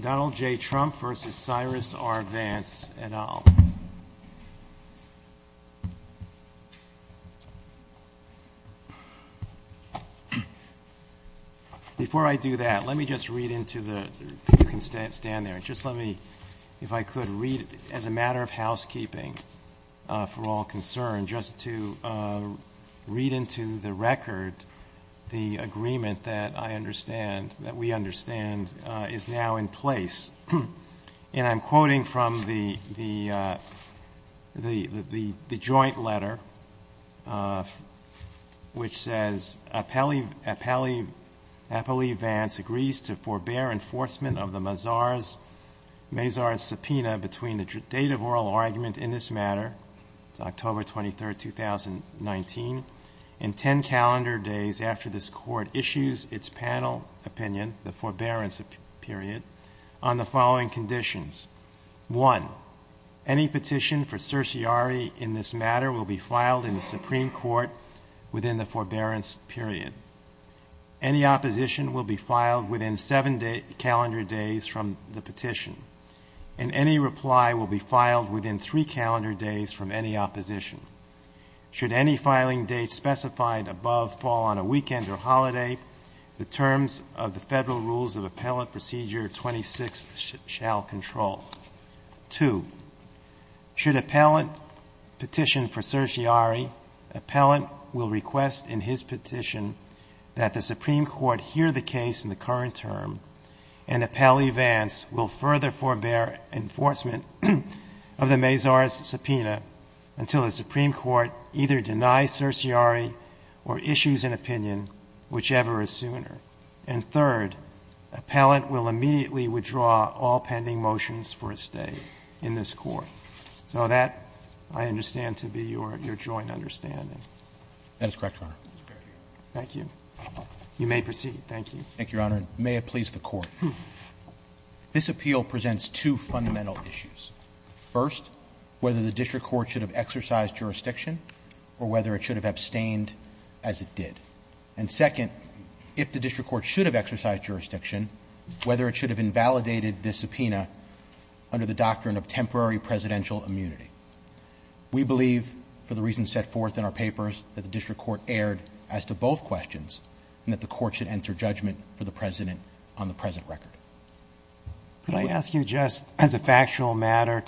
Donald J. Trump v. Cyrus R. Vance, et al. Before I do that, let me just read into the... You can stand there. Just let me, if I could, read as a matter of housekeeping, for all concerned, just to read into the record that the agreement that I understand, that we understand, is now in place. And I'm quoting from the joint letter, which says, Appellee Vance agrees to forbear enforcement of the Mazars subpoena between the date of oral argument in this matter, October 23, 2019, and 10 calendar days after this court issues its panel opinion, the forbearance period, on the following conditions. One, any petition for certiorari in this matter will be filed in the Supreme Court within the forbearance period. Any opposition will be filed within seven calendar days from the petition. And any reply will be filed within three calendar days from any opposition. Should any filing date specified above fall on a weekend or holiday, the terms of the Federal Rules of Appellant Procedure 26 shall control. Two, should appellant petition for certiorari, appellant will request in his petition that the Supreme Court hear the case in the current term, and appellee Vance will further forbear enforcement of the Mazars subpoena until the Supreme Court either denies certiorari or issues an opinion, whichever is sooner. And third, appellant will immediately withdraw all pending motions for a stay in this court. So that, I understand, to be your joint understanding. That is correct, Your Honor. Thank you. You may proceed. Thank you. Thank you, Your Honor. May it please the Court. This appeal presents two fundamental issues. First, whether the district court should have exercised jurisdiction, or whether it should have abstained as it did. And second, if the district court should have exercised jurisdiction, whether it should have invalidated the subpoena under the doctrine of temporary presidential immunity. We believe, for the reasons set forth in our papers, that the district court erred as to both questions, and that the court should enter judgment for the president on the present record. Could I ask you just, as a factual matter,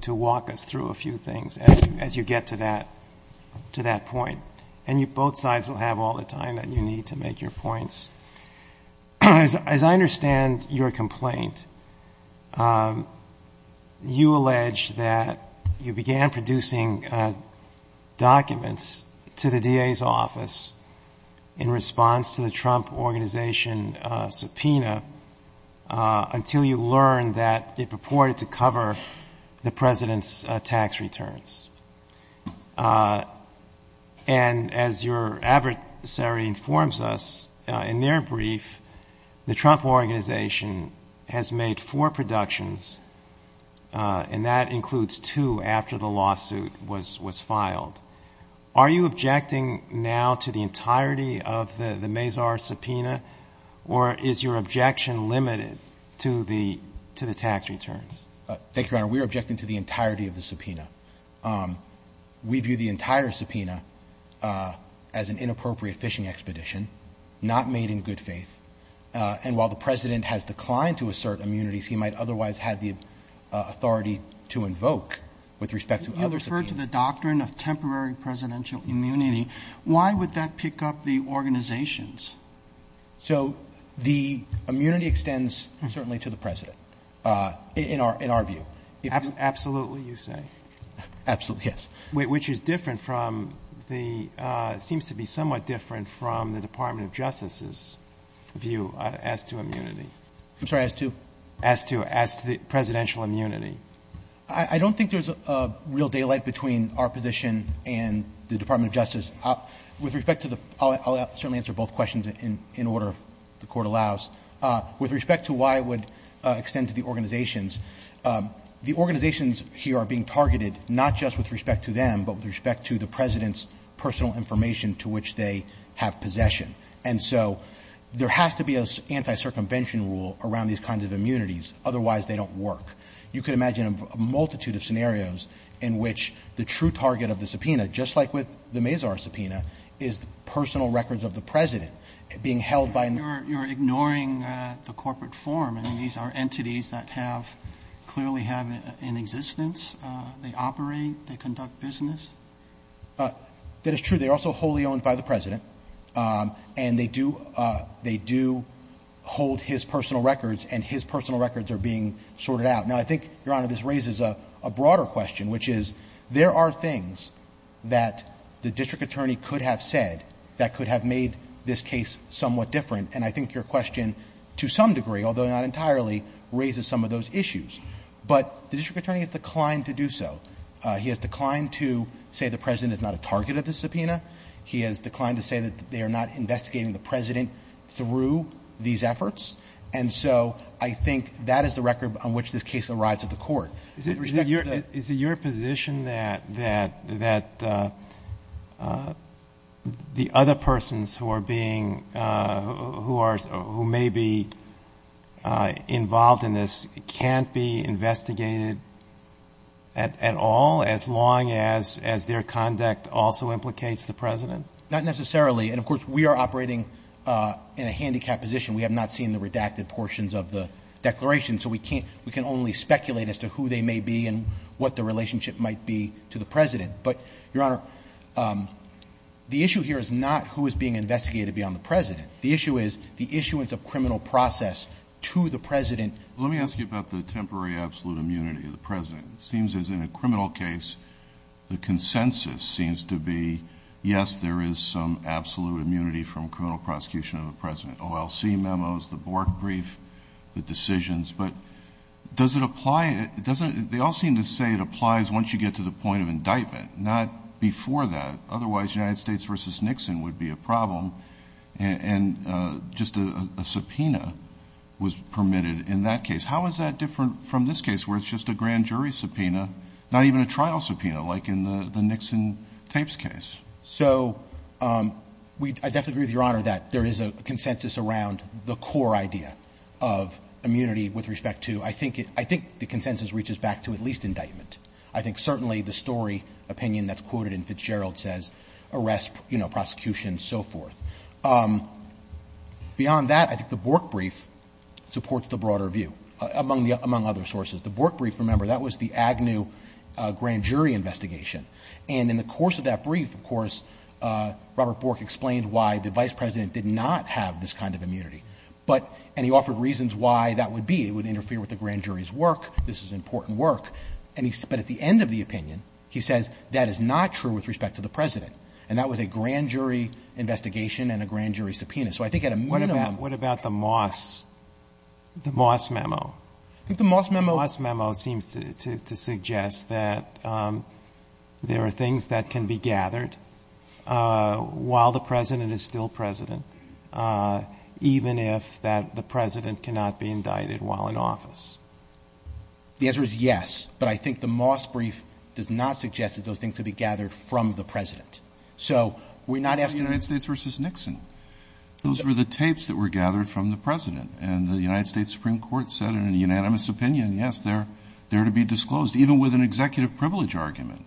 to walk us through a few things as you get to that point? And both sides will have all the time that you need to make your points. As I understand your complaint, you allege that you began producing documents to the DA's office in response to the Trump Organization subpoena until you learned that it purported to cover the president's tax returns. And as your adversary informs us, in their brief, the Trump Organization has made four productions, and that includes two after the lawsuit was filed. Are you objecting now to the entirety of the Mazar subpoena, or is your objection limited to the tax returns? Thank you, Your Honor. We are objecting to the entirety of the subpoena. We view the entire subpoena as an inappropriate fishing expedition, not made in good faith. And while the president has declined to assert immunities, he might otherwise have the authority to invoke with respect to other subpoenas. If you refer to the doctrine of temporary presidential immunity, why would that pick up the organizations? So the immunity extends certainly to the president, in our view. Absolutely, you say? Absolutely, yes. Which is different from the — seems to be somewhat different from the Department of Justice's view as to immunity. I'm sorry, as to? As to presidential immunity. I don't think there's a real daylight between our position and the Department of Justice. With respect to the — I'll certainly answer both questions in order, if the Court allows. With respect to why it would extend to the organizations, the organizations here are being targeted not just with respect to them, but with respect to the president's personal information to which they have possession. And so there has to be an anti-circumvention rule around these kinds of immunities, otherwise they don't work. You could imagine a multitude of scenarios in which the true target of the subpoena, just like with the Mazar subpoena, is the personal records of the president being held by an — You're ignoring the corporate form. I mean, these are entities that have — clearly have an existence. They operate. They conduct business. That is true. They are also wholly owned by the president, and they do — they do hold his personal records, and his personal records are being sorted out. Now, I think, Your Honor, this raises a broader question, which is there are things that the district attorney could have said that could have made this case somewhat different. And I think your question, to some degree, although not entirely, raises some of those issues. But the district attorney has declined to do so. He has declined to say the president is not a target of the subpoena. He has declined to say that they are not investigating the president through these efforts. And so I think that is the record on which this case arrives at the court. With respect to the — Is it your position that the other persons who are being — who may be involved in this can't be investigated at all, as long as their conduct also implicates the president? Not necessarily. And, of course, we are operating in a handicap position. We have not seen the redacted portions of the declaration, so we can't — we can only speculate as to who they may be and what the relationship might be to the president. But, Your Honor, the issue here is not who is being investigated beyond the president. The issue is the issuance of criminal process to the president. Let me ask you about the temporary absolute immunity of the president. It seems as in a criminal case, the consensus seems to be, yes, there is some criminal prosecution of the president, OLC memos, the board brief, the decisions. But does it apply — it doesn't — they all seem to say it applies once you get to the point of indictment, not before that. Otherwise, United States v. Nixon would be a problem. And just a subpoena was permitted in that case. How is that different from this case, where it's just a grand jury subpoena, not even a trial subpoena, like in the Nixon tapes case? So we — I definitely agree with Your Honor that there is a consensus around the core idea of immunity with respect to — I think it — I think the consensus reaches back to at least indictment. I think certainly the story opinion that's quoted in Fitzgerald says arrest, you know, prosecution, so forth. Beyond that, I think the Bork brief supports the broader view, among the — among other sources. The Bork brief, remember, that was the Agnew grand jury investigation. And in the course of that brief, of course, Robert Bork explained why the Vice President did not have this kind of immunity. But — and he offered reasons why that would be. It would interfere with the grand jury's work. This is important work. And he — but at the end of the opinion, he says that is not true with respect to the President. And that was a grand jury investigation and a grand jury subpoena. So I think at a minimum — What about — what about the Moss — the Moss memo? I think the Moss memo — There are things that can be gathered while the President is still President, even if that — the President cannot be indicted while in office. The answer is yes. But I think the Moss brief does not suggest that those things could be gathered from the President. So we're not asking — The United States versus Nixon. Those were the tapes that were gathered from the President. And the United States Supreme Court said in a unanimous opinion, yes, they're to be disclosed, even with an executive privilege argument.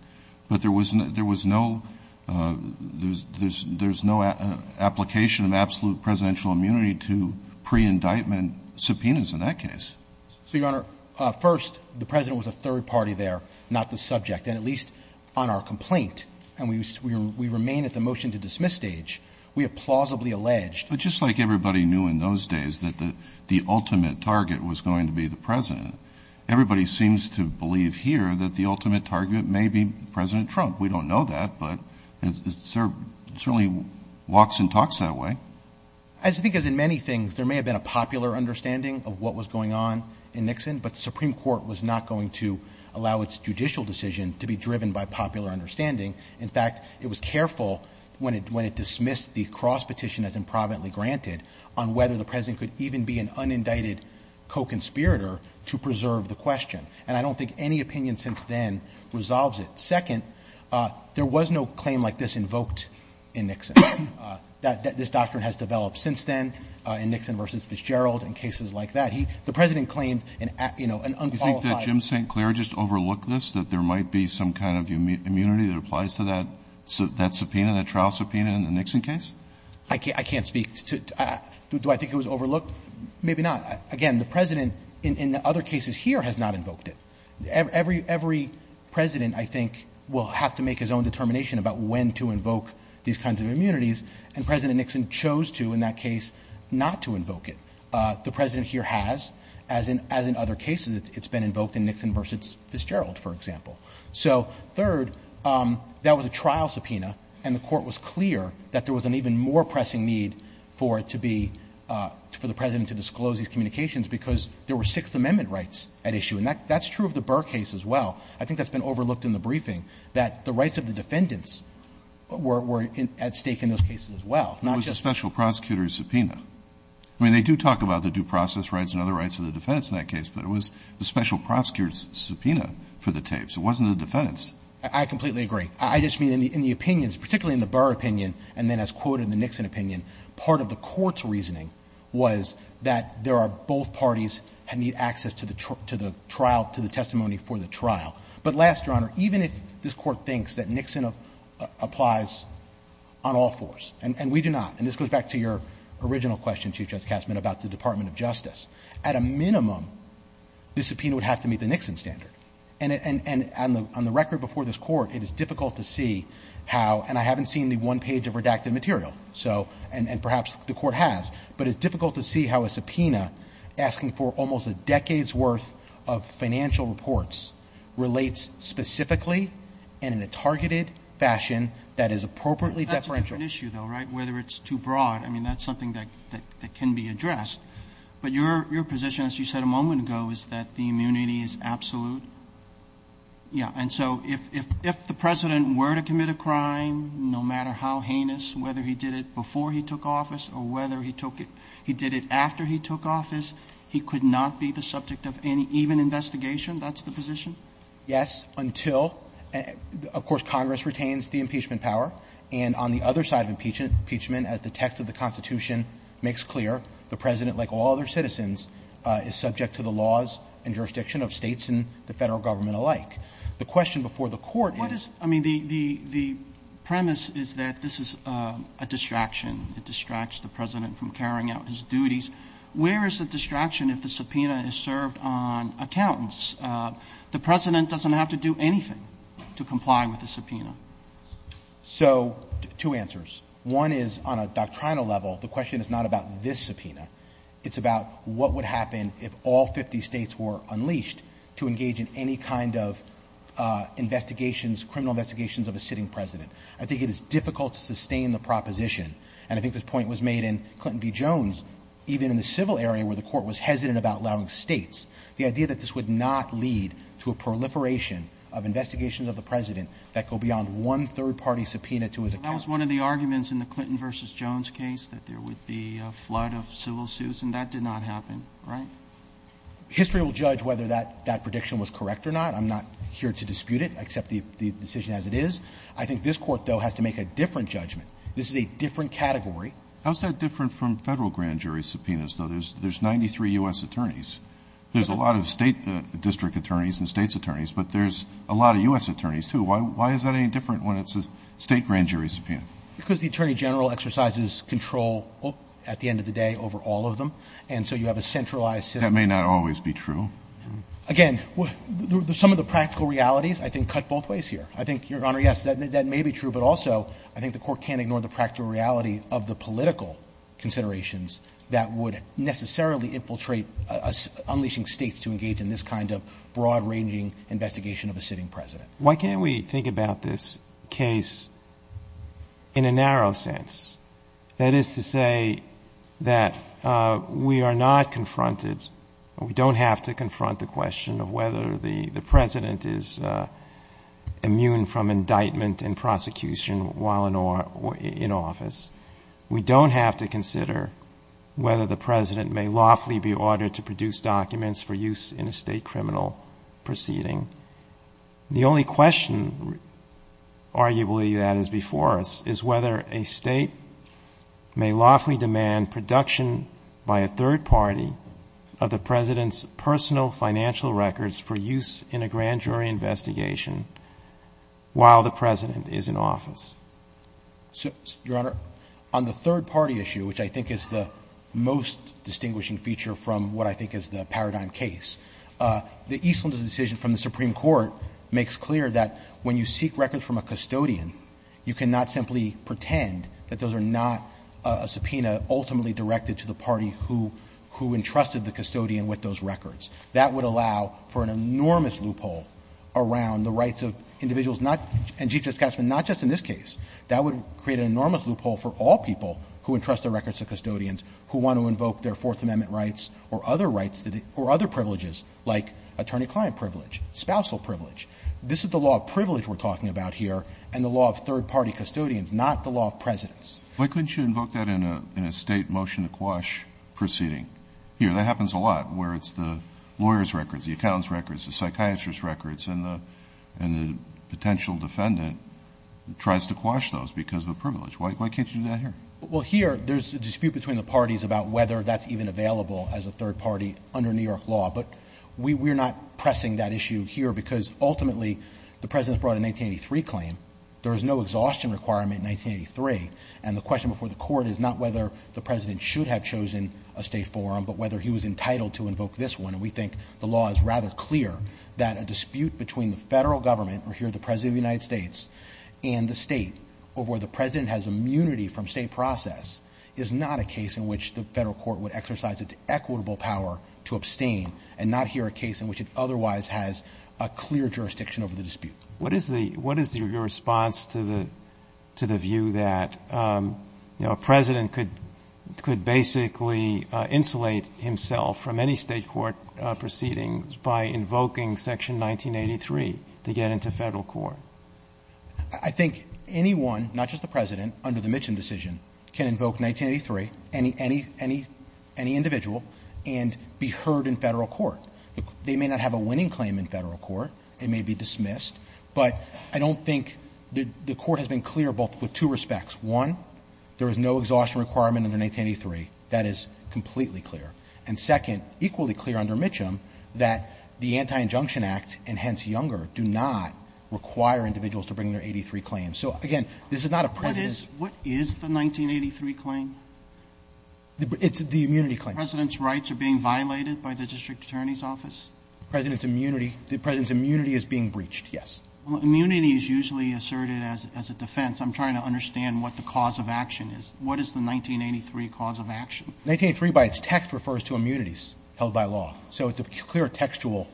But there was no — there was no — there's no application of absolute presidential immunity to pre-indictment subpoenas in that case. So, Your Honor, first, the President was a third party there, not the subject, and at least on our complaint. And we remain at the motion-to-dismiss stage. We have plausibly alleged — But just like everybody knew in those days that the ultimate target was going to be the President, everybody seems to believe here that the ultimate target may be President Trump. We don't know that, but there are certainly walks and talks that way. As I think, as in many things, there may have been a popular understanding of what was going on in Nixon, but the Supreme Court was not going to allow its judicial decision to be driven by popular understanding. In fact, it was careful when it dismissed the cross petition as improvidently to preserve the question. And I don't think any opinion since then resolves it. Second, there was no claim like this invoked in Nixon. This doctrine has developed since then in Nixon v. Fitzgerald and cases like that. The President claimed an unqualified — Do you think that Jim St. Clair just overlooked this, that there might be some kind of immunity that applies to that subpoena, that trial subpoena in the Nixon case? I can't speak to — do I think it was overlooked? Maybe not. Again, the President, in other cases here, has not invoked it. Every President, I think, will have to make his own determination about when to invoke these kinds of immunities, and President Nixon chose to in that case not to invoke it. The President here has, as in other cases. It's been invoked in Nixon v. Fitzgerald, for example. So third, that was a trial subpoena, and the Court was clear that there was an even more pressing need for it to be — for the President to disclose these communications because there were Sixth Amendment rights at issue. And that's true of the Burr case as well. I think that's been overlooked in the briefing, that the rights of the defendants were at stake in those cases as well, not just — It was a special prosecutor's subpoena. I mean, they do talk about the due process rights and other rights of the defendants in that case, but it was the special prosecutor's subpoena for the tapes. It wasn't the defendants. I completely agree. I just mean in the opinions, particularly in the Burr opinion, and then as quoted in the Nixon opinion, part of the Court's reasoning was that there are both parties that need access to the trial — to the testimony for the trial. But last, Your Honor, even if this Court thinks that Nixon applies on all fours, and we do not, and this goes back to your original question, Chief Justice Katsman, about the Department of Justice, at a minimum, the subpoena would have to meet the Nixon standard. And on the record before this Court, it is difficult to see how — and I haven't seen the one page of redacted material, so — and perhaps the Court has, but it's difficult to see how a subpoena asking for almost a decade's worth of financial reports relates specifically and in a targeted fashion that is appropriately deferential. That's a different issue, though, right, whether it's too broad. I mean, that's something that can be addressed. But your position, as you said a moment ago, is that the immunity is absolute? Yeah. And so if the President were to commit a crime, no matter how heinous, whether he did it before he took office or whether he took it — he did it after he took office, he could not be the subject of any even investigation? That's the position? Yes, until — of course, Congress retains the impeachment power. And on the other side of impeachment, as the text of the Constitution makes clear, the President, like all other citizens, is subject to the laws and jurisdiction of States and the Federal Government alike. The question before the Court is — What is — I mean, the premise is that this is a distraction. It distracts the President from carrying out his duties. Where is the distraction if the subpoena is served on accountants? The President doesn't have to do anything to comply with the subpoena. So two answers. One is, on a doctrinal level, the question is not about this subpoena. It's about what would happen if all 50 States were unleashed to engage in any kind of investigations, criminal investigations of a sitting President. I think it is difficult to sustain the proposition, and I think this point was made in Clinton v. Jones, even in the civil area where the Court was hesitant about allowing States, the idea that this would not lead to a proliferation of investigations of the President that go beyond one third-party subpoena to his accountants. That was one of the arguments in the Clinton v. Jones case, that there would be a flood of civil suits, and that did not happen, right? History will judge whether that prediction was correct or not. I'm not here to dispute it. I accept the decision as it is. I think this Court, though, has to make a different judgment. This is a different category. How is that different from Federal grand jury subpoenas, though? There's 93 U.S. attorneys. There's a lot of State district attorneys and States attorneys, but there's a lot of U.S. attorneys, too. Why is that any different when it's a State grand jury subpoena? Because the Attorney General exercises control at the end of the day over all of them, and so you have a centralized system. That may not always be true. Again, some of the practical realities I think cut both ways here. I think, Your Honor, yes, that may be true, but also I think the Court can't ignore the practical reality of the political considerations that would necessarily infiltrate unleashing States to engage in this kind of broad-ranging investigation of a sitting President. Why can't we think about this case in a narrow sense? That is to say that we are not confronted, we don't have to confront the question of whether the President is immune from indictment and prosecution while in office. We don't have to consider whether the President may lawfully be ordered to produce documents for use in a State criminal proceeding. The only question, arguably, that is before us is whether a State may lawfully demand production by a third party of the President's personal financial records for use in a grand jury investigation while the President is in office. So, Your Honor, on the third-party issue, which I think is the most distinguishing feature from what I think is the paradigm case, the Eastlanders' decision from the Supreme Court makes clear that when you seek records from a custodian, you cannot simply pretend that those are not a subpoena ultimately directed to the party who entrusted the custodian with those records. That would allow for an enormous loophole around the rights of individuals not — and Chief Justice Katzman, not just in this case. That would create an enormous loophole for all people who entrust their records to custodians who want to invoke their Fourth Amendment rights or other rights or other privileges like attorney-client privilege, spousal privilege. This is the law of privilege we're talking about here and the law of third-party custodians, not the law of Presidents. Why couldn't you invoke that in a State motion to quash proceeding? Here, that happens a lot where it's the lawyer's records, the accountant's records, the psychiatrist's records, and the potential defendant tries to quash those because of a privilege. Why can't you do that here? Well, here, there's a dispute between the parties about whether that's even available as a third party under New York law, but we're not pressing that issue here because ultimately the President's brought a 1983 claim. There was no exhaustion requirement in 1983, and the question before the Court is not whether the President should have chosen a State forum, but whether he was entitled to invoke this one, and we think the law is rather clear that a dispute between the Federal Government, or here the President of the United States, and the State over where the President has immunity from State process is not a case in which the Federal Court would exercise its equitable power to abstain and not here a case in which it otherwise has a clear jurisdiction over the dispute. What is your response to the view that a President could basically insulate himself from any State court proceedings by invoking Section 1983 to get into the Federal Court? I think anyone, not just the President, under the Mitchum decision can invoke 1983, any individual, and be heard in Federal Court. They may not have a winning claim in Federal Court. It may be dismissed, but I don't think the Court has been clear both with two respects. One, there is no exhaustion requirement under 1983. That is completely clear. And second, equally clear under Mitchum that the Anti-Injunction Act and hence Younger do not require individuals to bring their 1983 claims. So, again, this is not a President's. What is the 1983 claim? It's the immunity claim. The President's rights are being violated by the District Attorney's Office? The President's immunity is being breached, yes. Well, immunity is usually asserted as a defense. I'm trying to understand what the cause of action is. What is the 1983 cause of action? 1983 by its text refers to immunities held by law. So it's a clear textual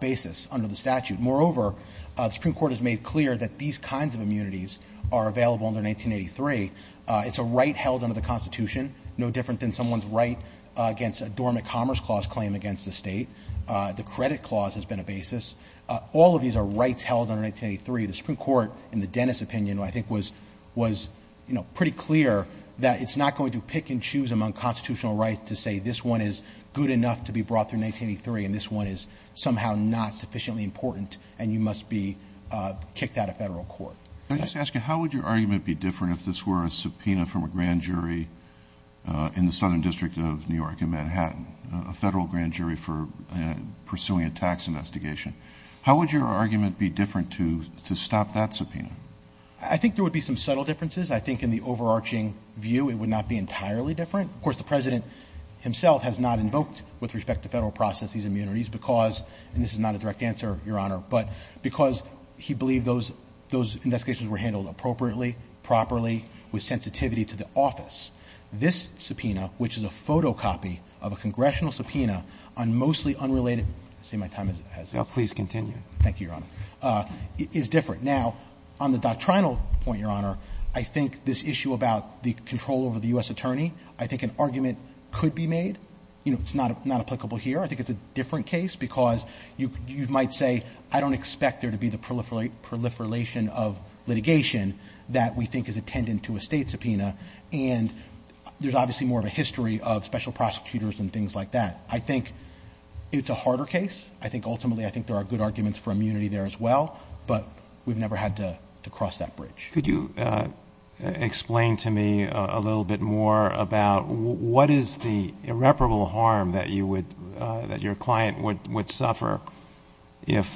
basis under the statute. Moreover, the Supreme Court has made clear that these kinds of immunities are available under 1983. It's a right held under the Constitution, no different than someone's right against a dormant commerce clause claim against the State. The credit clause has been a basis. All of these are rights held under 1983. The Supreme Court, in the Dennis opinion, I think was, you know, pretty clear that it's not going to pick and choose among constitutional rights to say this one is good enough to be brought through 1983 and this one is somehow not sufficiently important and you must be kicked out of federal court. Let me just ask you, how would your argument be different if this were a subpoena from a grand jury in the Southern District of New York in Manhattan, a federal grand jury for pursuing a tax investigation? How would your argument be different to stop that subpoena? I think there would be some subtle differences. I think in the overarching view it would not be entirely different. Of course, the President himself has not invoked, with respect to federal processes, immunities because, and this is not a direct answer, Your Honor, but because he believed those investigations were handled appropriately, properly, with sensitivity to the office. This subpoena, which is a photocopy of a congressional subpoena on mostly unrelated – I see my time has expired. No, please continue. Thank you, Your Honor. It is different. Now, on the doctrinal point, Your Honor, I think this issue about the control over the U.S. attorney, I think an argument could be made. You know, it's not applicable here. I think it's a different case because you might say, I don't expect there to be the proliferation of litigation that we think is attendant to a state subpoena, and there's obviously more of a history of special prosecutors and things like that. I think it's a harder case. I think ultimately I think there are good arguments for immunity there as well, but we've never had to cross that bridge. Could you explain to me a little bit more about what is the irreparable harm that your client would suffer if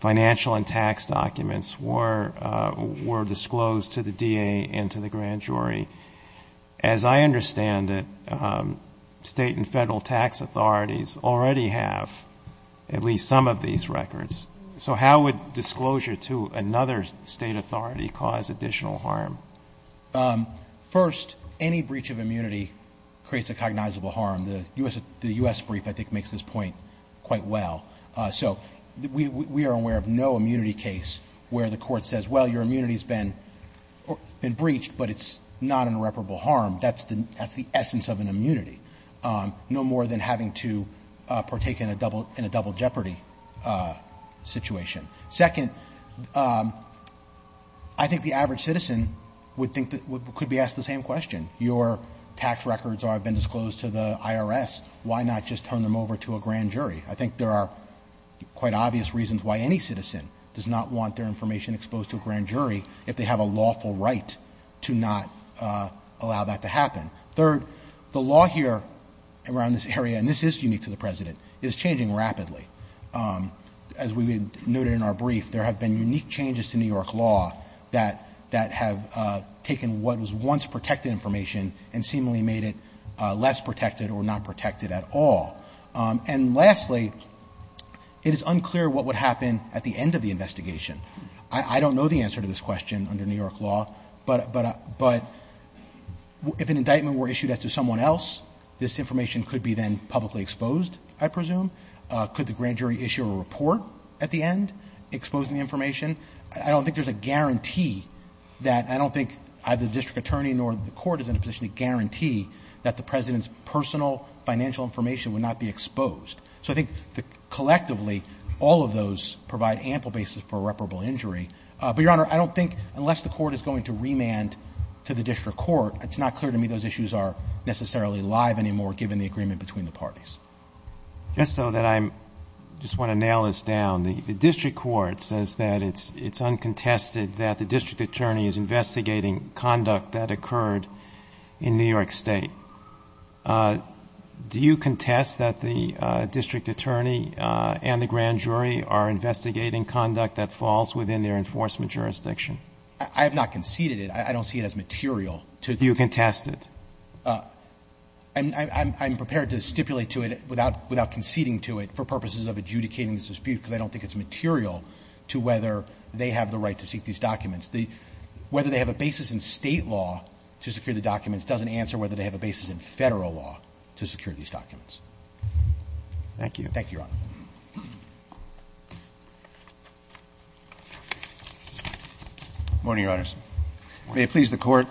financial and tax documents were disclosed to the DA and to the grand jury? As I understand it, state and federal tax authorities already have at least some of these records. So how would disclosure to another state authority cause additional harm? First, any breach of immunity creates a cognizable harm. The U.S. brief, I think, makes this point quite well. So we are aware of no immunity case where the court says, well, your immunity has been breached, but it's not an irreparable harm. That's the essence of an immunity, no more than having to partake in a double jeopardy situation. Second, I think the average citizen would think that we could be asked the same question. If your tax records have been disclosed to the IRS, why not just turn them over to a grand jury? I think there are quite obvious reasons why any citizen does not want their information exposed to a grand jury if they have a lawful right to not allow that to happen. Third, the law here around this area, and this is unique to the President, is changing rapidly. As we noted in our brief, there have been unique changes to New York law that have taken what was once protected information and seemingly made it less protected or not protected at all. And lastly, it is unclear what would happen at the end of the investigation. I don't know the answer to this question under New York law, but if an indictment were issued as to someone else, this information could be then publicly exposed, I presume. I don't think there's a guarantee that the President's personal financial information would not be exposed. So I think collectively, all of those provide ample basis for irreparable injury. But, Your Honor, I don't think unless the court is going to remand to the district court, it's not clear to me those issues are necessarily alive anymore given the agreement between the parties. Just so that I'm just want to nail this down, the district court says that it's uncontested that the district attorney is investigating conduct that occurred in New York State. Do you contest that the district attorney and the grand jury are investigating conduct that falls within their enforcement jurisdiction? I have not conceded it. I don't see it as material. Do you contest it? I'm prepared to stipulate to it without conceding to it for purposes of adjudicating this dispute, because I don't think it's material to whether they have the right to seek these documents. Whether they have a basis in State law to secure the documents doesn't answer whether they have a basis in Federal law to secure these documents. Thank you. Thank you, Your Honor. Morning, Your Honors. May it please the Court.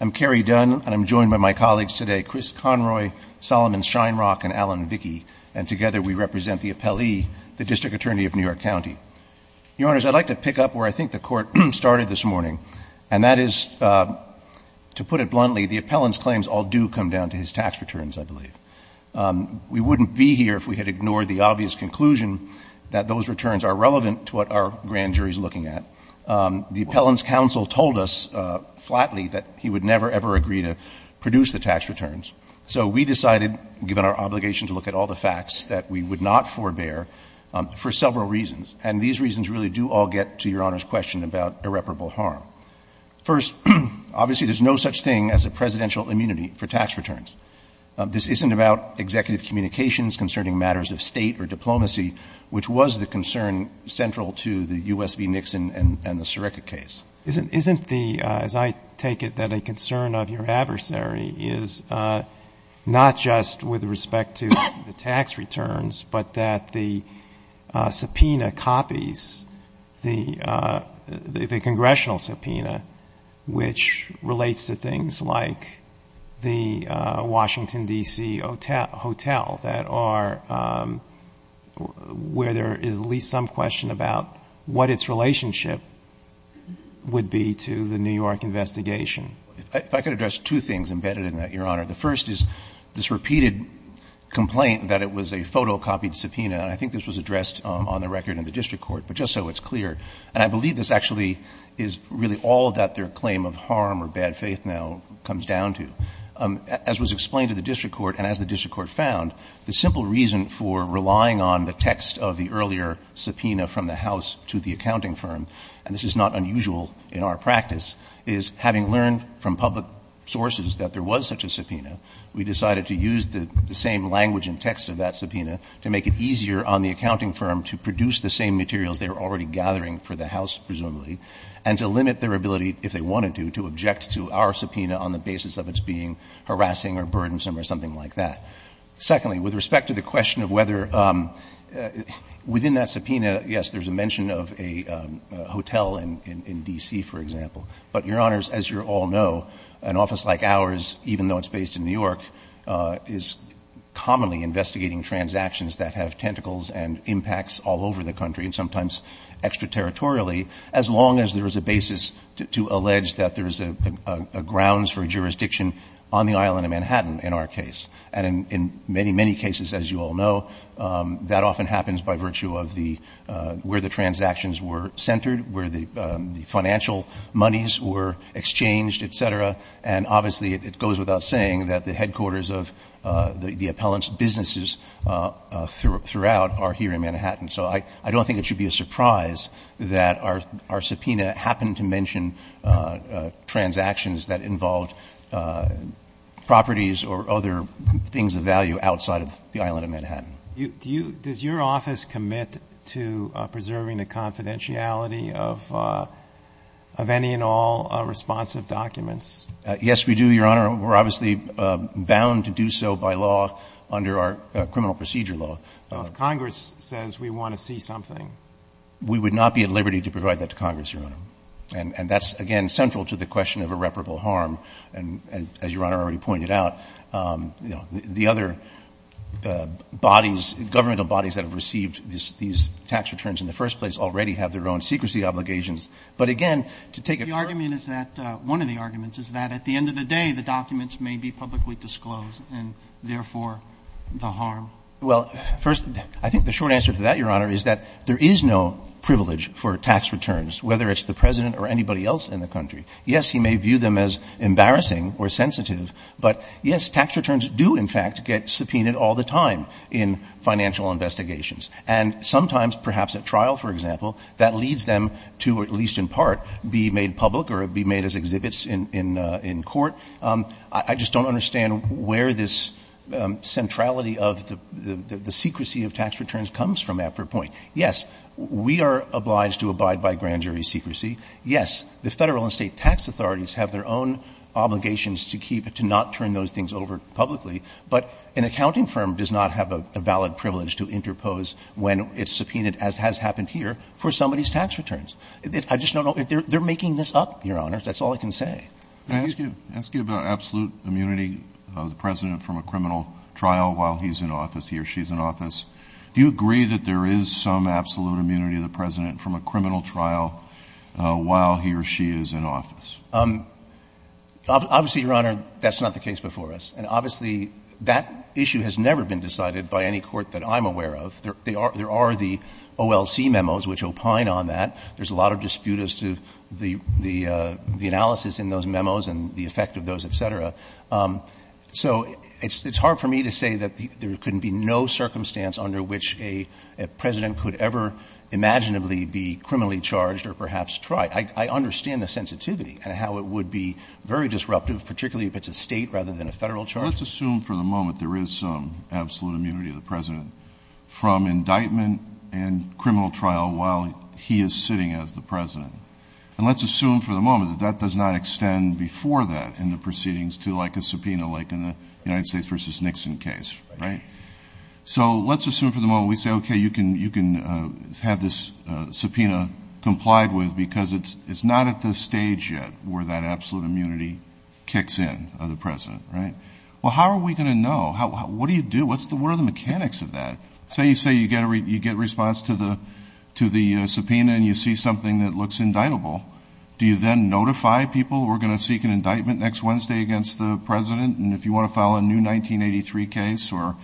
I'm Kerry Dunn, and I'm joined by my colleagues today, Chris Conroy, Solomon Shinerock, and Alan Vicki, and together we represent the appellee, the district attorney of New York County. Your Honors, I'd like to pick up where I think the Court started this morning, and that is, to put it bluntly, the appellant's claims all do come down to his tax returns, I believe. We wouldn't be here if we had ignored the obvious conclusion that those returns are relevant to what our grand jury is looking at. The appellant's counsel told us flatly that he would never, ever agree to produce the tax returns. So we decided, given our obligation to look at all the facts, that we would not forbear for several reasons, and these reasons really do all get to Your Honor's question about irreparable harm. First, obviously, there's no such thing as a presidential immunity for tax returns. This isn't about executive communications concerning matters of State or diplomacy, which was the concern central to the U.S. v. Nixon and the Sirica case. Isn't the, as I take it, that a concern of your adversary is not just with respect to the tax returns, but that the subpoena copies the congressional subpoena, which relates to things like the Washington, D.C. hotel that are where there is at least some question about what its relationship would be to the New York investigation? If I could address two things embedded in that, Your Honor. The first is this repeated complaint that it was a photocopied subpoena, and I think this was addressed on the record in the district court, but just so it's clear. And I believe this actually is really all that their claim of harm or bad faith now comes down to. As was explained to the district court, and as the district court found, the simple reason for relying on the text of the earlier subpoena from the House to the accounting firm, and this is not unusual in our practice, is having learned from public sources that there was such a subpoena, we decided to use the same language and text of that presumably, and to limit their ability, if they wanted to, to object to our subpoena on the basis of its being harassing or burdensome or something like that. Secondly, with respect to the question of whether within that subpoena, yes, there is a mention of a hotel in D.C., for example, but, Your Honors, as you all know, an office like ours, even though it's based in New York, is commonly investigating transactions that have tentacles and impacts all over the country, and sometimes extraterritorially, as long as there is a basis to allege that there is a grounds for jurisdiction on the island of Manhattan, in our case. And in many, many cases, as you all know, that often happens by virtue of the where the transactions were centered, where the financial monies were exchanged, et cetera, and obviously it goes without saying that the headquarters of the repellent businesses throughout are here in Manhattan. So I don't think it should be a surprise that our subpoena happened to mention transactions that involved properties or other things of value outside of the island of Manhattan. Does your office commit to preserving the confidentiality of any and all responsive documents? Yes, we do, Your Honor. We're obviously bound to do so by law under our criminal procedure law. So if Congress says we want to see something? We would not be at liberty to provide that to Congress, Your Honor. And that's, again, central to the question of irreparable harm. And as Your Honor already pointed out, you know, the other bodies, governmental bodies that have received these tax returns in the first place already have their own secrecy obligations. But again, to take it further. The argument is that, one of the arguments is that at the end of the day, the documents may be publicly disclosed and therefore the harm. Well, first, I think the short answer to that, Your Honor, is that there is no privilege for tax returns, whether it's the President or anybody else in the country. Yes, he may view them as embarrassing or sensitive. But, yes, tax returns do, in fact, get subpoenaed all the time in financial investigations. And sometimes, perhaps at trial, for example, that leads them to, at least in part, be made public or be made as exhibits in court. I just don't understand where this centrality of the secrecy of tax returns comes from at that point. Yes, we are obliged to abide by grand jury secrecy. Yes, the Federal and State tax authorities have their own obligations to keep it, to not turn those things over publicly. But an accounting firm does not have a valid privilege to interpose when it's subpoenaed, as has happened here, for somebody's tax returns. I just don't know. They're making this up, Your Honor. That's all I can say. Thank you. Kennedy. I ask you about absolute immunity of the President from a criminal trial while he's in office, he or she's in office. Do you agree that there is some absolute immunity of the President from a criminal trial while he or she is in office? Obviously, Your Honor, that's not the case before us. And obviously, that issue has never been decided by any court that I'm aware of. There are the OLC memos which opine on that. There's a lot of dispute as to the analysis in those memos and the effect of those, et cetera. So it's hard for me to say that there could be no circumstance under which a President could ever imaginably be criminally charged or perhaps tried. I understand the sensitivity and how it would be very disruptive, particularly if it's a state rather than a federal charge. Let's assume for the moment there is some absolute immunity of the President from indictment and criminal trial while he is sitting as the President. And let's assume for the moment that that does not extend before that in the proceedings to like a subpoena like in the United States v. Nixon case, right? So let's assume for the moment we say, okay, you can have this subpoena complied with because it's not at the stage yet where that absolute immunity kicks in of the President, right? Well, how are we going to know? What do you do? What are the mechanics of that? Say you say you get response to the subpoena and you see something that looks indictable. Do you then notify people we're going to seek an indictment next Wednesday against the President? And if you want to file a new 1983 case or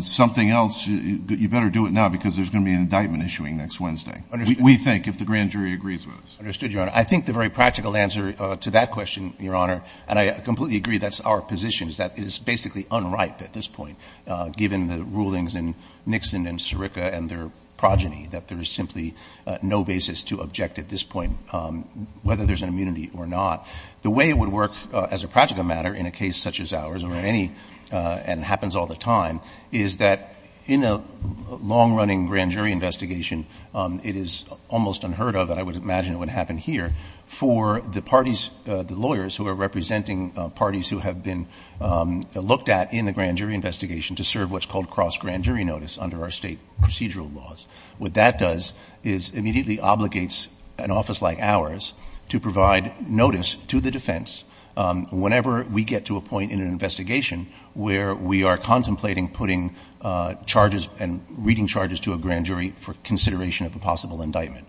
something else, you better do it now because there's going to be an indictment issuing next Wednesday, we think, if the grand jury agrees with us. Understood, Your Honor. I think the very practical answer to that question, Your Honor, and I completely agree that's our position, is that it is basically unripe at this point, given the rulings in Nixon and Sirica and their progeny, that there is simply no basis to object at this point, whether there's an immunity or not. The way it would work as a practical matter in a case such as ours or any, and it happens all the time, is that in a long-running grand jury investigation, it is almost unheard of, and I would imagine it would happen here, for the parties, the lawyers who are representing parties who have been looked at in the grand jury investigation to serve what's called cross-grand jury notice under our state procedural laws. What that does is immediately obligates an office like ours to provide notice to the defense whenever we get to a point in an investigation where we are contemplating putting charges and reading charges to a grand jury for consideration of a possible indictment.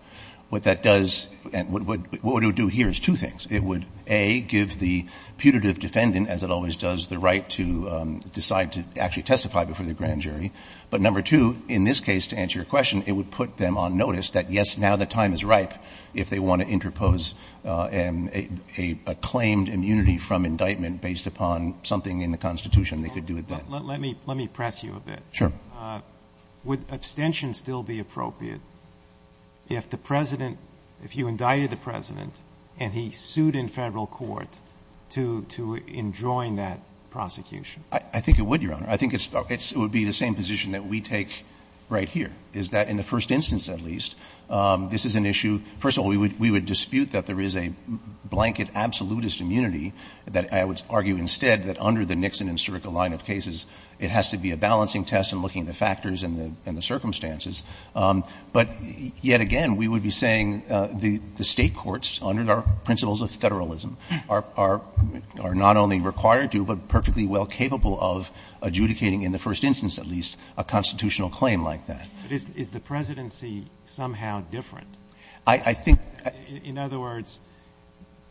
What that does, and what it would do here is two things. It would, A, give the putative defendant, as it always does, the right to decide to actually testify before the grand jury. But number two, in this case, to answer your question, it would put them on notice that, yes, now the time is ripe if they want to interpose a claimed immunity from indictment based upon something in the Constitution they could do at that time. Roberts. Let me press you a bit. Would abstention still be appropriate if the President, if you indicted the President and he sued in Federal court to enjoin that prosecution? I think it would, Your Honor. I think it would be the same position that we take right here, is that in the first instance at least, this is an issue. First of all, we would dispute that there is a blanket absolutist immunity that I would argue instead that under the Nixon and Circa line of cases, it has to be a balancing test in looking at the factors and the circumstances. But yet again, we would be saying the State courts, under our principles of federalism, are not only required to, but perfectly well capable of adjudicating in the first instance at least, a constitutional claim like that. But is the presidency somehow different? I think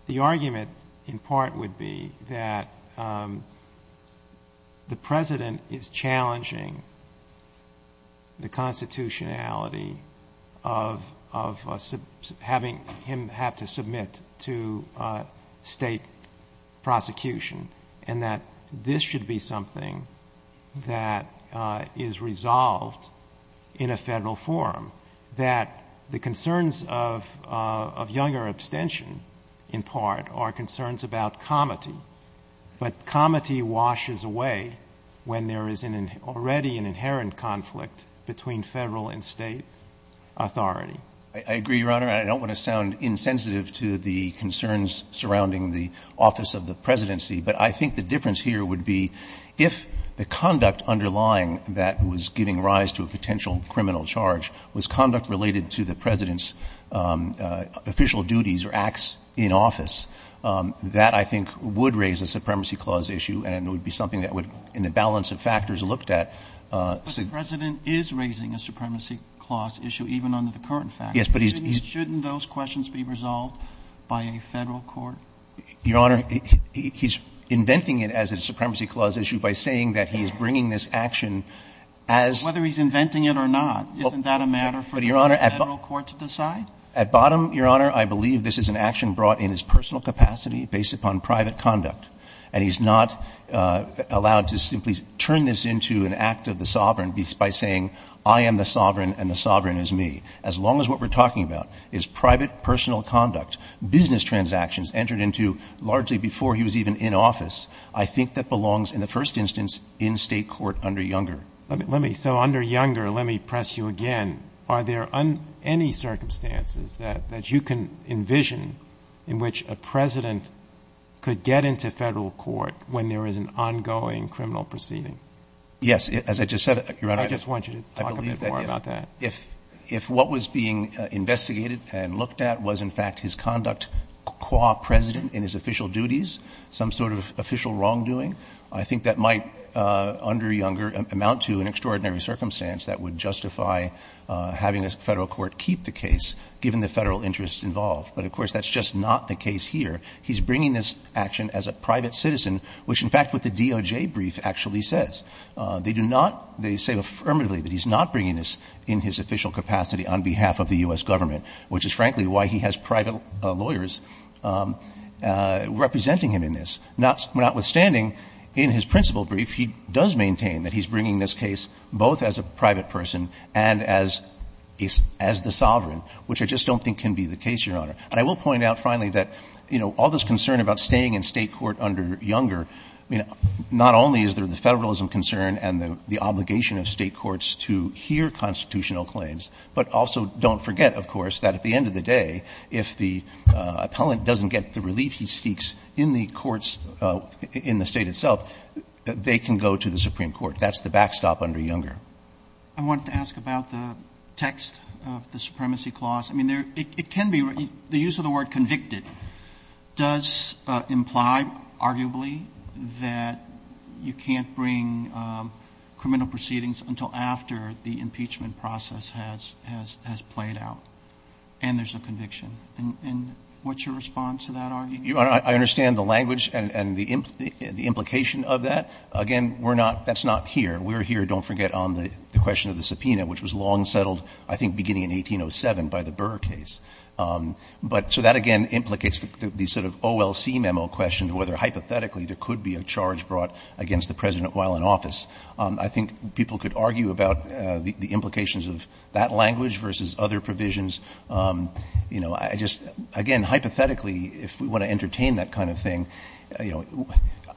the argument in part would be that the President is challenging the constitutionality of having him have to submit to State prosecution and that this should be something that is resolved in a Federal forum. That the concerns of younger abstention in part are concerns about comity. But comity washes away when there is already an inherent conflict between Federal and State authority. I agree, Your Honor. I don't want to sound insensitive to the concerns surrounding the office of the presidency. But I think the difference here would be if the conduct underlying that was giving rise to a potential criminal charge was conduct related to the President's official duties or acts in office, that I think would raise a supremacy clause issue and it would be something that would, in the balance of factors looked at. But the President is raising a supremacy clause issue even under the current factors. Yes, but he's. Shouldn't those questions be resolved by a Federal court? Your Honor, he's inventing it as a supremacy clause issue by saying that he is bringing this action as. Whether he's inventing it or not, isn't that a matter for the Federal court to decide? At bottom, Your Honor, I believe this is an action brought in his personal capacity based upon private conduct. And he's not allowed to simply turn this into an act of the sovereign by saying I am the sovereign and the sovereign is me. As long as what we're talking about is private personal conduct, business transactions entered into largely before he was even in office, I think that belongs in the first instance in State court under Younger. Let me. So under Younger, let me press you again. Are there any circumstances that you can envision in which a President could get into Federal court when there is an ongoing criminal proceeding? Yes. As I just said, Your Honor. I just want you to talk a bit more about that. If what was being investigated and looked at was in fact his conduct qua President in his official duties, some sort of official wrongdoing, I think that might under Younger amount to an extraordinary circumstance that would justify having a Federal court keep the case given the Federal interests involved. But, of course, that's just not the case here. He's bringing this action as a private citizen, which in fact what the DOJ brief actually says. They do not, they say affirmatively that he's not bringing this in his official capacity on behalf of the U.S. government, which is frankly why he has private lawyers representing him in this. Notwithstanding, in his principal brief, he does maintain that he's bringing this case both as a private person and as the sovereign, which I just don't think can be the case, Your Honor. And I will point out finally that, you know, all this concern about staying in State court under Younger, not only is there the Federalism concern and the obligation of State courts to hear constitutional claims, but also don't forget, of course, that at the end of the day, if the appellant doesn't get the relief he seeks in the courts in the State itself, they can go to the Supreme Court. That's the backstop under Younger. Roberts. I wanted to ask about the text of the Supremacy Clause. I mean, it can be, the use of the word convicted does imply arguably that you can't bring criminal proceedings until after the impeachment process has played out. And there's a conviction. And what's your response to that argument? Your Honor, I understand the language and the implication of that. Again, we're not, that's not here. We're here, don't forget, on the question of the subpoena, which was long settled, I think, beginning in 1807 by the Burr case. But so that, again, implicates the sort of OLC memo question to whether hypothetically there could be a charge brought against the President while in office. I think people could argue about the implications of that language versus other provisions. You know, I just, again, hypothetically, if we want to entertain that kind of thing, you know,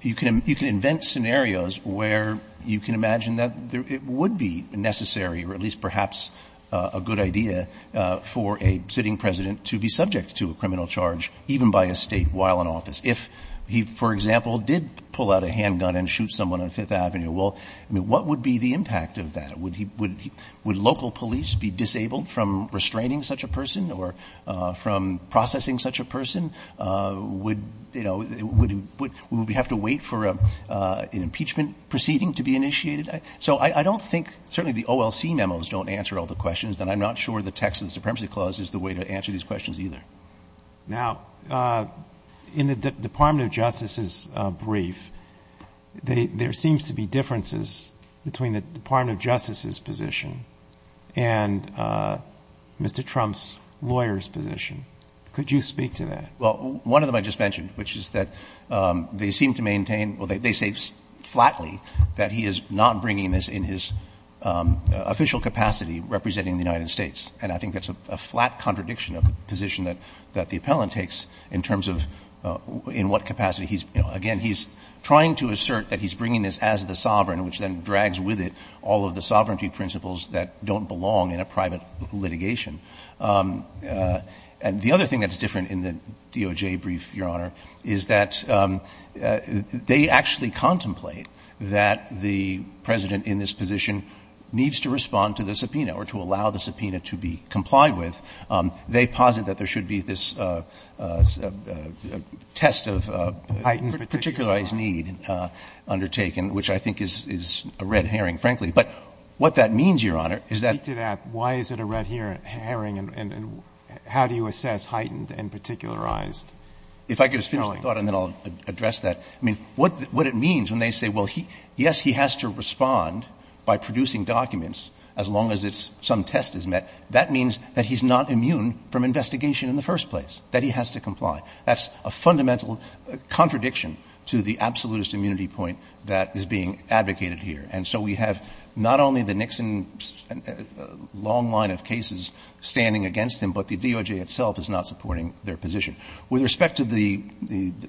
you can invent scenarios where you can imagine that it would be necessary or at least perhaps a good idea for a sitting President to be subject to a criminal charge even by a State while in office. If he, for example, did pull out a handgun and shoot someone on Fifth Avenue, well, I mean, what would be the impact of that? Would local police be disabled from restraining such a person or from processing such a person? Would, you know, would we have to wait for an impeachment proceeding to be initiated? So I don't think, certainly the OLC memos don't answer all the questions. And I'm not sure the Texas Supremacy Clause is the way to answer these questions either. Roberts. Now, in the Department of Justice's brief, there seems to be differences between the Department of Justice's position and Mr. Trump's lawyer's position. Could you speak to that? Well, one of them I just mentioned, which is that they seem to maintain, well, they say flatly that he is not bringing this in his official capacity representing the United States. And I think that's a flat contradiction of the position that the appellant takes in terms of in what capacity he's, you know, again, he's trying to assert that he's bringing this as the sovereign, which then drags with it all of the sovereignty principles that don't belong in a private litigation. And the other thing that's different in the DOJ brief, Your Honor, is that they actually contemplate that the President in this position needs to respond to the question that we're asking of him. And the DOJ is not one of those places where they should be complied with. They posit that there should be this test of particularized need undertaken, which I think is a red herring, frankly. But what that means, Your Honor, is that the do. Speak to that. Why is it a red herring and how do you assess heightened and particularized need? If I could just finish the thought and then I'll address that. I mean, what it means when they say, well, yes, he has to respond by producing documents as long as some test is met. That means that he's not immune from investigation in the first place, that he has to comply. That's a fundamental contradiction to the absolutist immunity point that is being advocated here. And so we have not only the Nixon long line of cases standing against him, but the DOJ itself is not supporting their position. With respect to the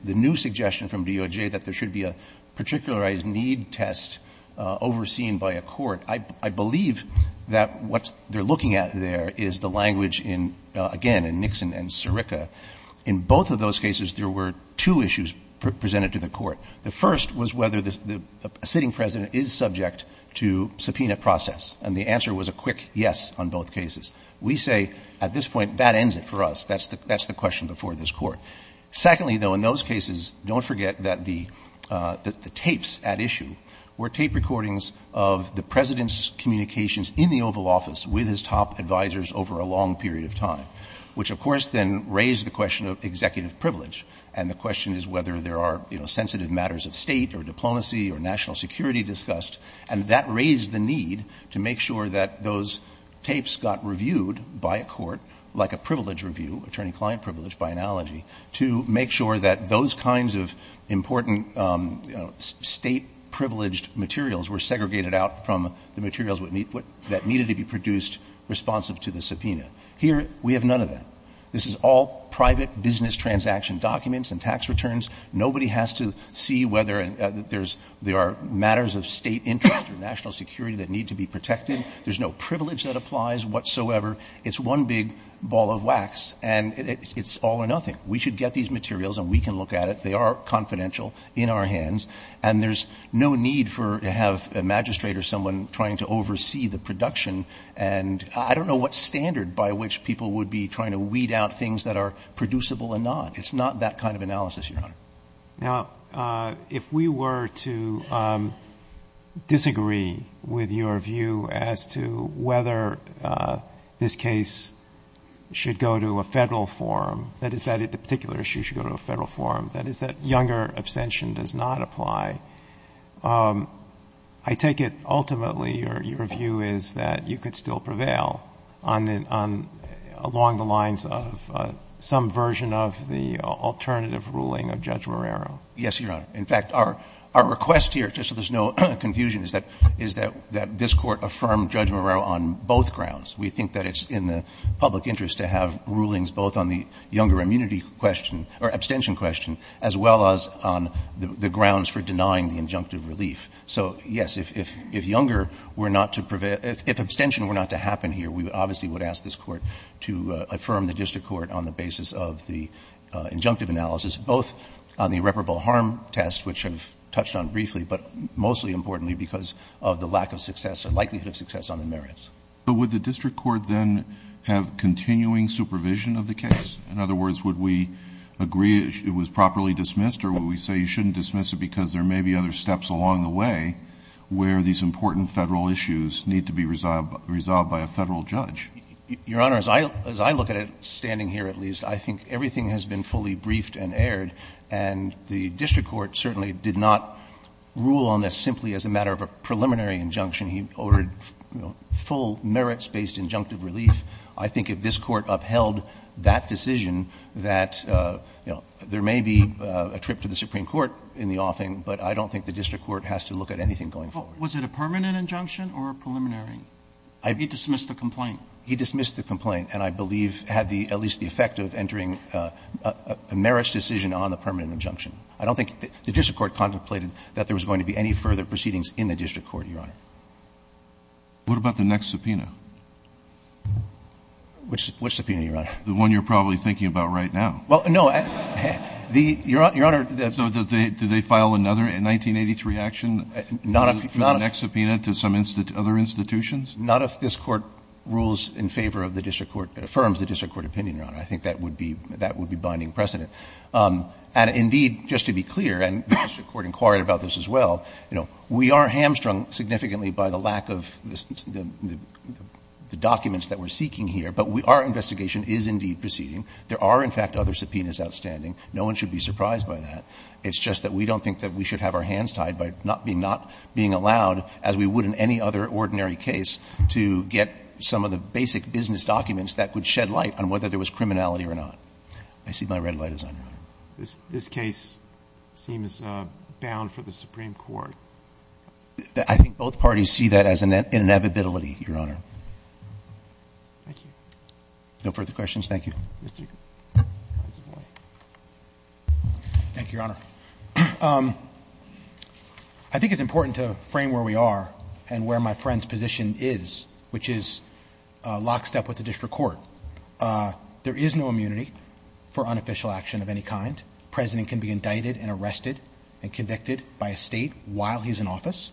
new suggestion from DOJ that there should be a particularized need test overseen by a court, I believe that what they're looking at there is the language in, again, in Nixon and Sirica. In both of those cases, there were two issues presented to the court. The first was whether the sitting president is subject to subpoena process. And the answer was a quick yes on both cases. We say at this point, that ends it for us. That's the question before this Court. Secondly, though, in those cases, don't forget that the tapes at issue were tape recordings of the President's communications in the Oval Office with his top advisers over a long period of time, which, of course, then raised the question of executive privilege. And the question is whether there are, you know, sensitive matters of State or diplomacy or national security discussed. And that raised the need to make sure that those tapes got reviewed by a court, like a privilege review, attorney-client privilege, by analogy, to make sure that those kinds of important, you know, State-privileged materials were segregated out from the materials that needed to be produced responsive to the subpoena. Here, we have none of that. This is all private business transaction documents and tax returns. Nobody has to see whether there are matters of State interest or national security that need to be protected. There's no privilege that applies whatsoever. It's one big ball of wax, and it's all or nothing. We should get these materials and we can look at it. They are confidential in our hands. And there's no need for to have a magistrate or someone trying to oversee the production. And I don't know what standard by which people would be trying to weed out things that are producible or not. It's not that kind of analysis, Your Honor. Now, if we were to disagree with your view as to whether this case should go to a federal forum, that is, that the particular issue should go to a federal forum, that is, that younger abstention does not apply, I take it ultimately your view is that you could still prevail along the lines of some version of the alternative ruling of Judge Marrero. Yes, Your Honor. In fact, our request here, just so there's no confusion, is that this Court affirmed Judge Marrero on both grounds. We think that it's in the public interest to have rulings both on the younger immunity question or abstention question as well as on the grounds for denying the injunctive So, yes, if younger were not to prevail, if abstention were not to happen here, we obviously would ask this Court to affirm the district court on the basis of the injunctive analysis, both on the irreparable harm test, which I've touched on briefly, but mostly importantly because of the lack of success or likelihood of success on the merits. But would the district court then have continuing supervision of the case? In other words, would we agree it was properly dismissed or would we say you shouldn't where these important Federal issues need to be resolved by a Federal judge? Your Honor, as I look at it, standing here at least, I think everything has been fully briefed and aired, and the district court certainly did not rule on this simply as a matter of a preliminary injunction. He ordered, you know, full merits-based injunctive relief. I think if this Court upheld that decision that, you know, there may be a trip to the district court has to look at anything going forward. Was it a permanent injunction or a preliminary? He dismissed the complaint. He dismissed the complaint and I believe had at least the effect of entering a merits decision on the permanent injunction. I don't think the district court contemplated that there was going to be any further proceedings in the district court, Your Honor. What about the next subpoena? Which subpoena, Your Honor? The one you're probably thinking about right now. Well, no. Your Honor. So do they file another in 1983 action for the next subpoena to some other institutions? Not if this Court rules in favor of the district court, affirms the district court opinion, Your Honor. I think that would be binding precedent. And indeed, just to be clear, and the district court inquired about this as well, you know, we are hamstrung significantly by the lack of the documents that we're seeking here, but our investigation is indeed proceeding. There are, in fact, other subpoenas outstanding. No one should be surprised by that. It's just that we don't think that we should have our hands tied by not being allowed, as we would in any other ordinary case, to get some of the basic business documents that would shed light on whether there was criminality or not. I see my red light is on, Your Honor. This case seems bound for the Supreme Court. I think both parties see that as an inevitability, Your Honor. Thank you. No further questions. Thank you. Mr. Consovoy. Thank you, Your Honor. I think it's important to frame where we are and where my friend's position is, which is lockstep with the district court. There is no immunity for unofficial action of any kind. The President can be indicted and arrested and convicted by a State while he's in office.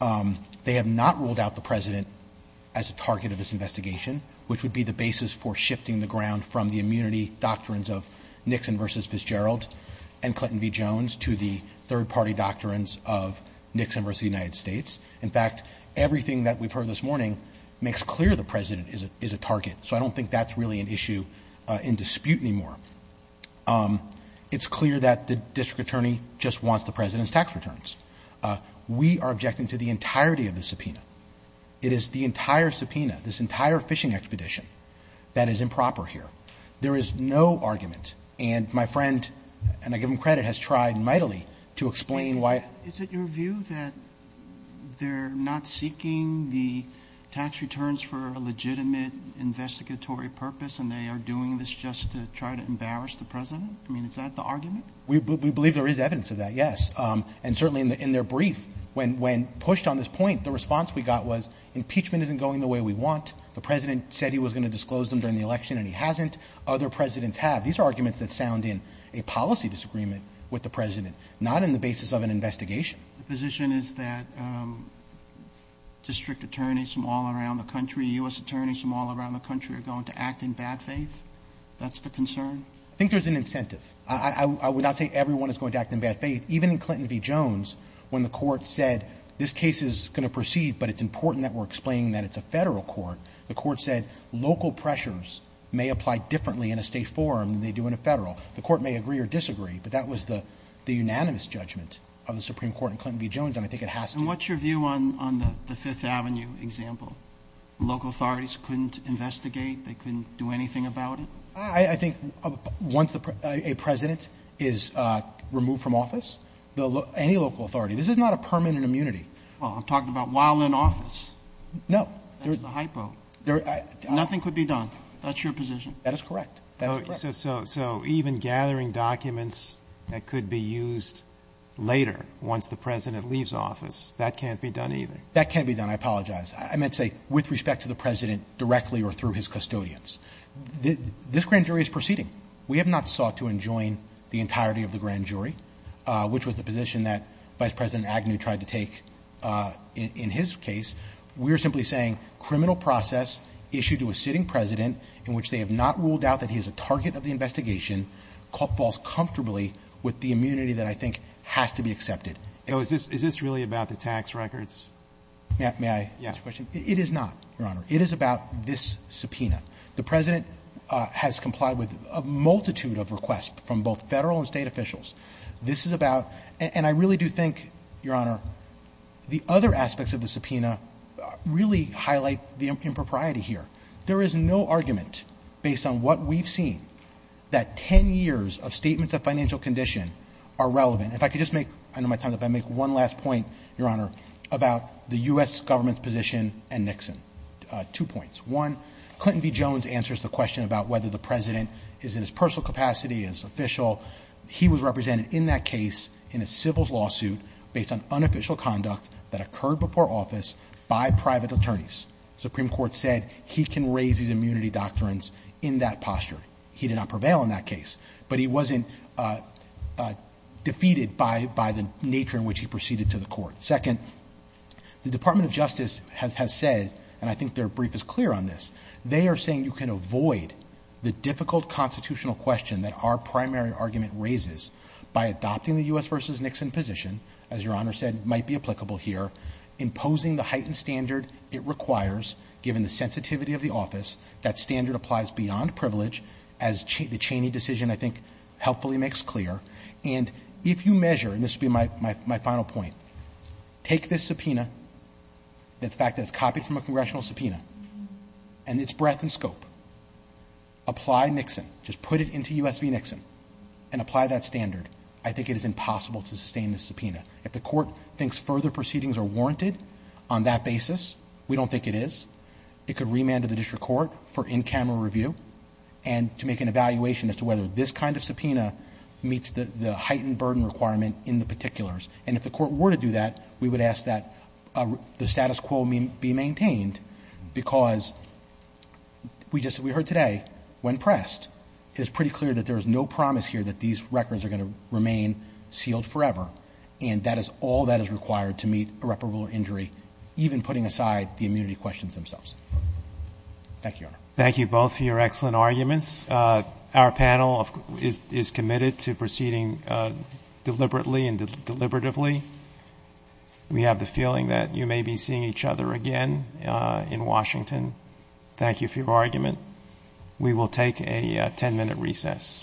They have not ruled out the President as a target of this investigation, which would be the basis for shifting the ground from the immunity doctrines of Nixon v. Fitzgerald and Clinton v. Jones to the third-party doctrines of Nixon v. United States. In fact, everything that we've heard this morning makes clear the President is a target. So I don't think that's really an issue in dispute anymore. It's clear that the district attorney just wants the President's tax returns. We are objecting to the entirety of the subpoena. It is the entire subpoena, this entire fishing expedition that is improper here. There is no argument. And my friend, and I give him credit, has tried mightily to explain why. Is it your view that they're not seeking the tax returns for a legitimate investigatory purpose and they are doing this just to try to embarrass the President? I mean, is that the argument? We believe there is evidence of that, yes. And certainly in their brief, when pushed on this point, the response we got was impeachment isn't going the way we want. The President said he was going to disclose them during the election and he hasn't. Other Presidents have. These are arguments that sound in a policy disagreement with the President, not in the basis of an investigation. The position is that district attorneys from all around the country, U.S. attorneys from all around the country are going to act in bad faith? That's the concern? I think there's an incentive. I would not say everyone is going to act in bad faith. Even in Clinton v. Jones, when the Court said this case is going to proceed, but it's important that we're explaining that it's a Federal court, the Court said local pressures may apply differently in a State forum than they do in a Federal. The Court may agree or disagree, but that was the unanimous judgment of the Supreme Court in Clinton v. Jones, and I think it has to be. And what's your view on the Fifth Avenue example? Local authorities couldn't investigate? They couldn't do anything about it? I think once a President is removed from office, any local authority. This is not a permanent immunity. Well, I'm talking about while in office. No. That's the hypo. Nothing could be done. That's your position? That is correct. That is correct. So even gathering documents that could be used later once the President leaves office, that can't be done either? That can't be done. I apologize. I meant to say with respect to the President directly or through his custodians. This grand jury is proceeding. We have not sought to enjoin the entirety of the grand jury, which was the position that Vice President Agnew tried to take in his case. We are simply saying criminal process issued to a sitting President in which they have not ruled out that he is a target of the investigation falls comfortably with the immunity that I think has to be accepted. So is this really about the tax records? May I? It is not, Your Honor. It is about this subpoena. The President has complied with a multitude of requests from both Federal and State officials. This is about, and I really do think, Your Honor, the other aspects of the subpoena really highlight the impropriety here. There is no argument based on what we've seen that 10 years of statements of financial condition are relevant. If I could just make, under my time, if I could make one last point, Your Honor, about the U.S. Government's position and Nixon. Two points. One, Clinton v. Jones answers the question about whether the President is in his personal capacity, is official. He was represented in that case in a civil lawsuit based on unofficial conduct that occurred before office by private attorneys. The Supreme Court said he can raise his immunity doctrines in that posture. He did not prevail in that case. But he wasn't defeated by the nature in which he proceeded to the court. Second, the Department of Justice has said, and I think their brief is clear on this, they are saying you can avoid the difficult constitutional question that our primary argument raises by adopting the U.S. v. Nixon position, as Your Honor said might be applicable here, imposing the heightened standard it requires given the sensitivity of the office. That standard applies beyond privilege, as the Cheney decision, I think, helpfully makes clear. And if you measure, and this will be my final point, take this subpoena, the fact that it's copied from a congressional subpoena, and its breadth and scope, apply Nixon, just put it into U.S. v. Nixon, and apply that standard, I think it is impossible to sustain this subpoena. If the court thinks further proceedings are warranted on that basis, we don't think it is. It could remand to the district court for in-camera review and to make an additional subpoena meets the heightened burden requirement in the particulars. And if the court were to do that, we would ask that the status quo be maintained because we heard today, when pressed, it is pretty clear that there is no promise here that these records are going to remain sealed forever. And that is all that is required to meet irreparable injury, even putting aside the immunity questions themselves. Thank you, Your Honor. Thank you both for your excellent arguments. Our panel is committed to proceeding deliberately and deliberatively. We have the feeling that you may be seeing each other again in Washington. Thank you for your argument. We will take a ten-minute recess.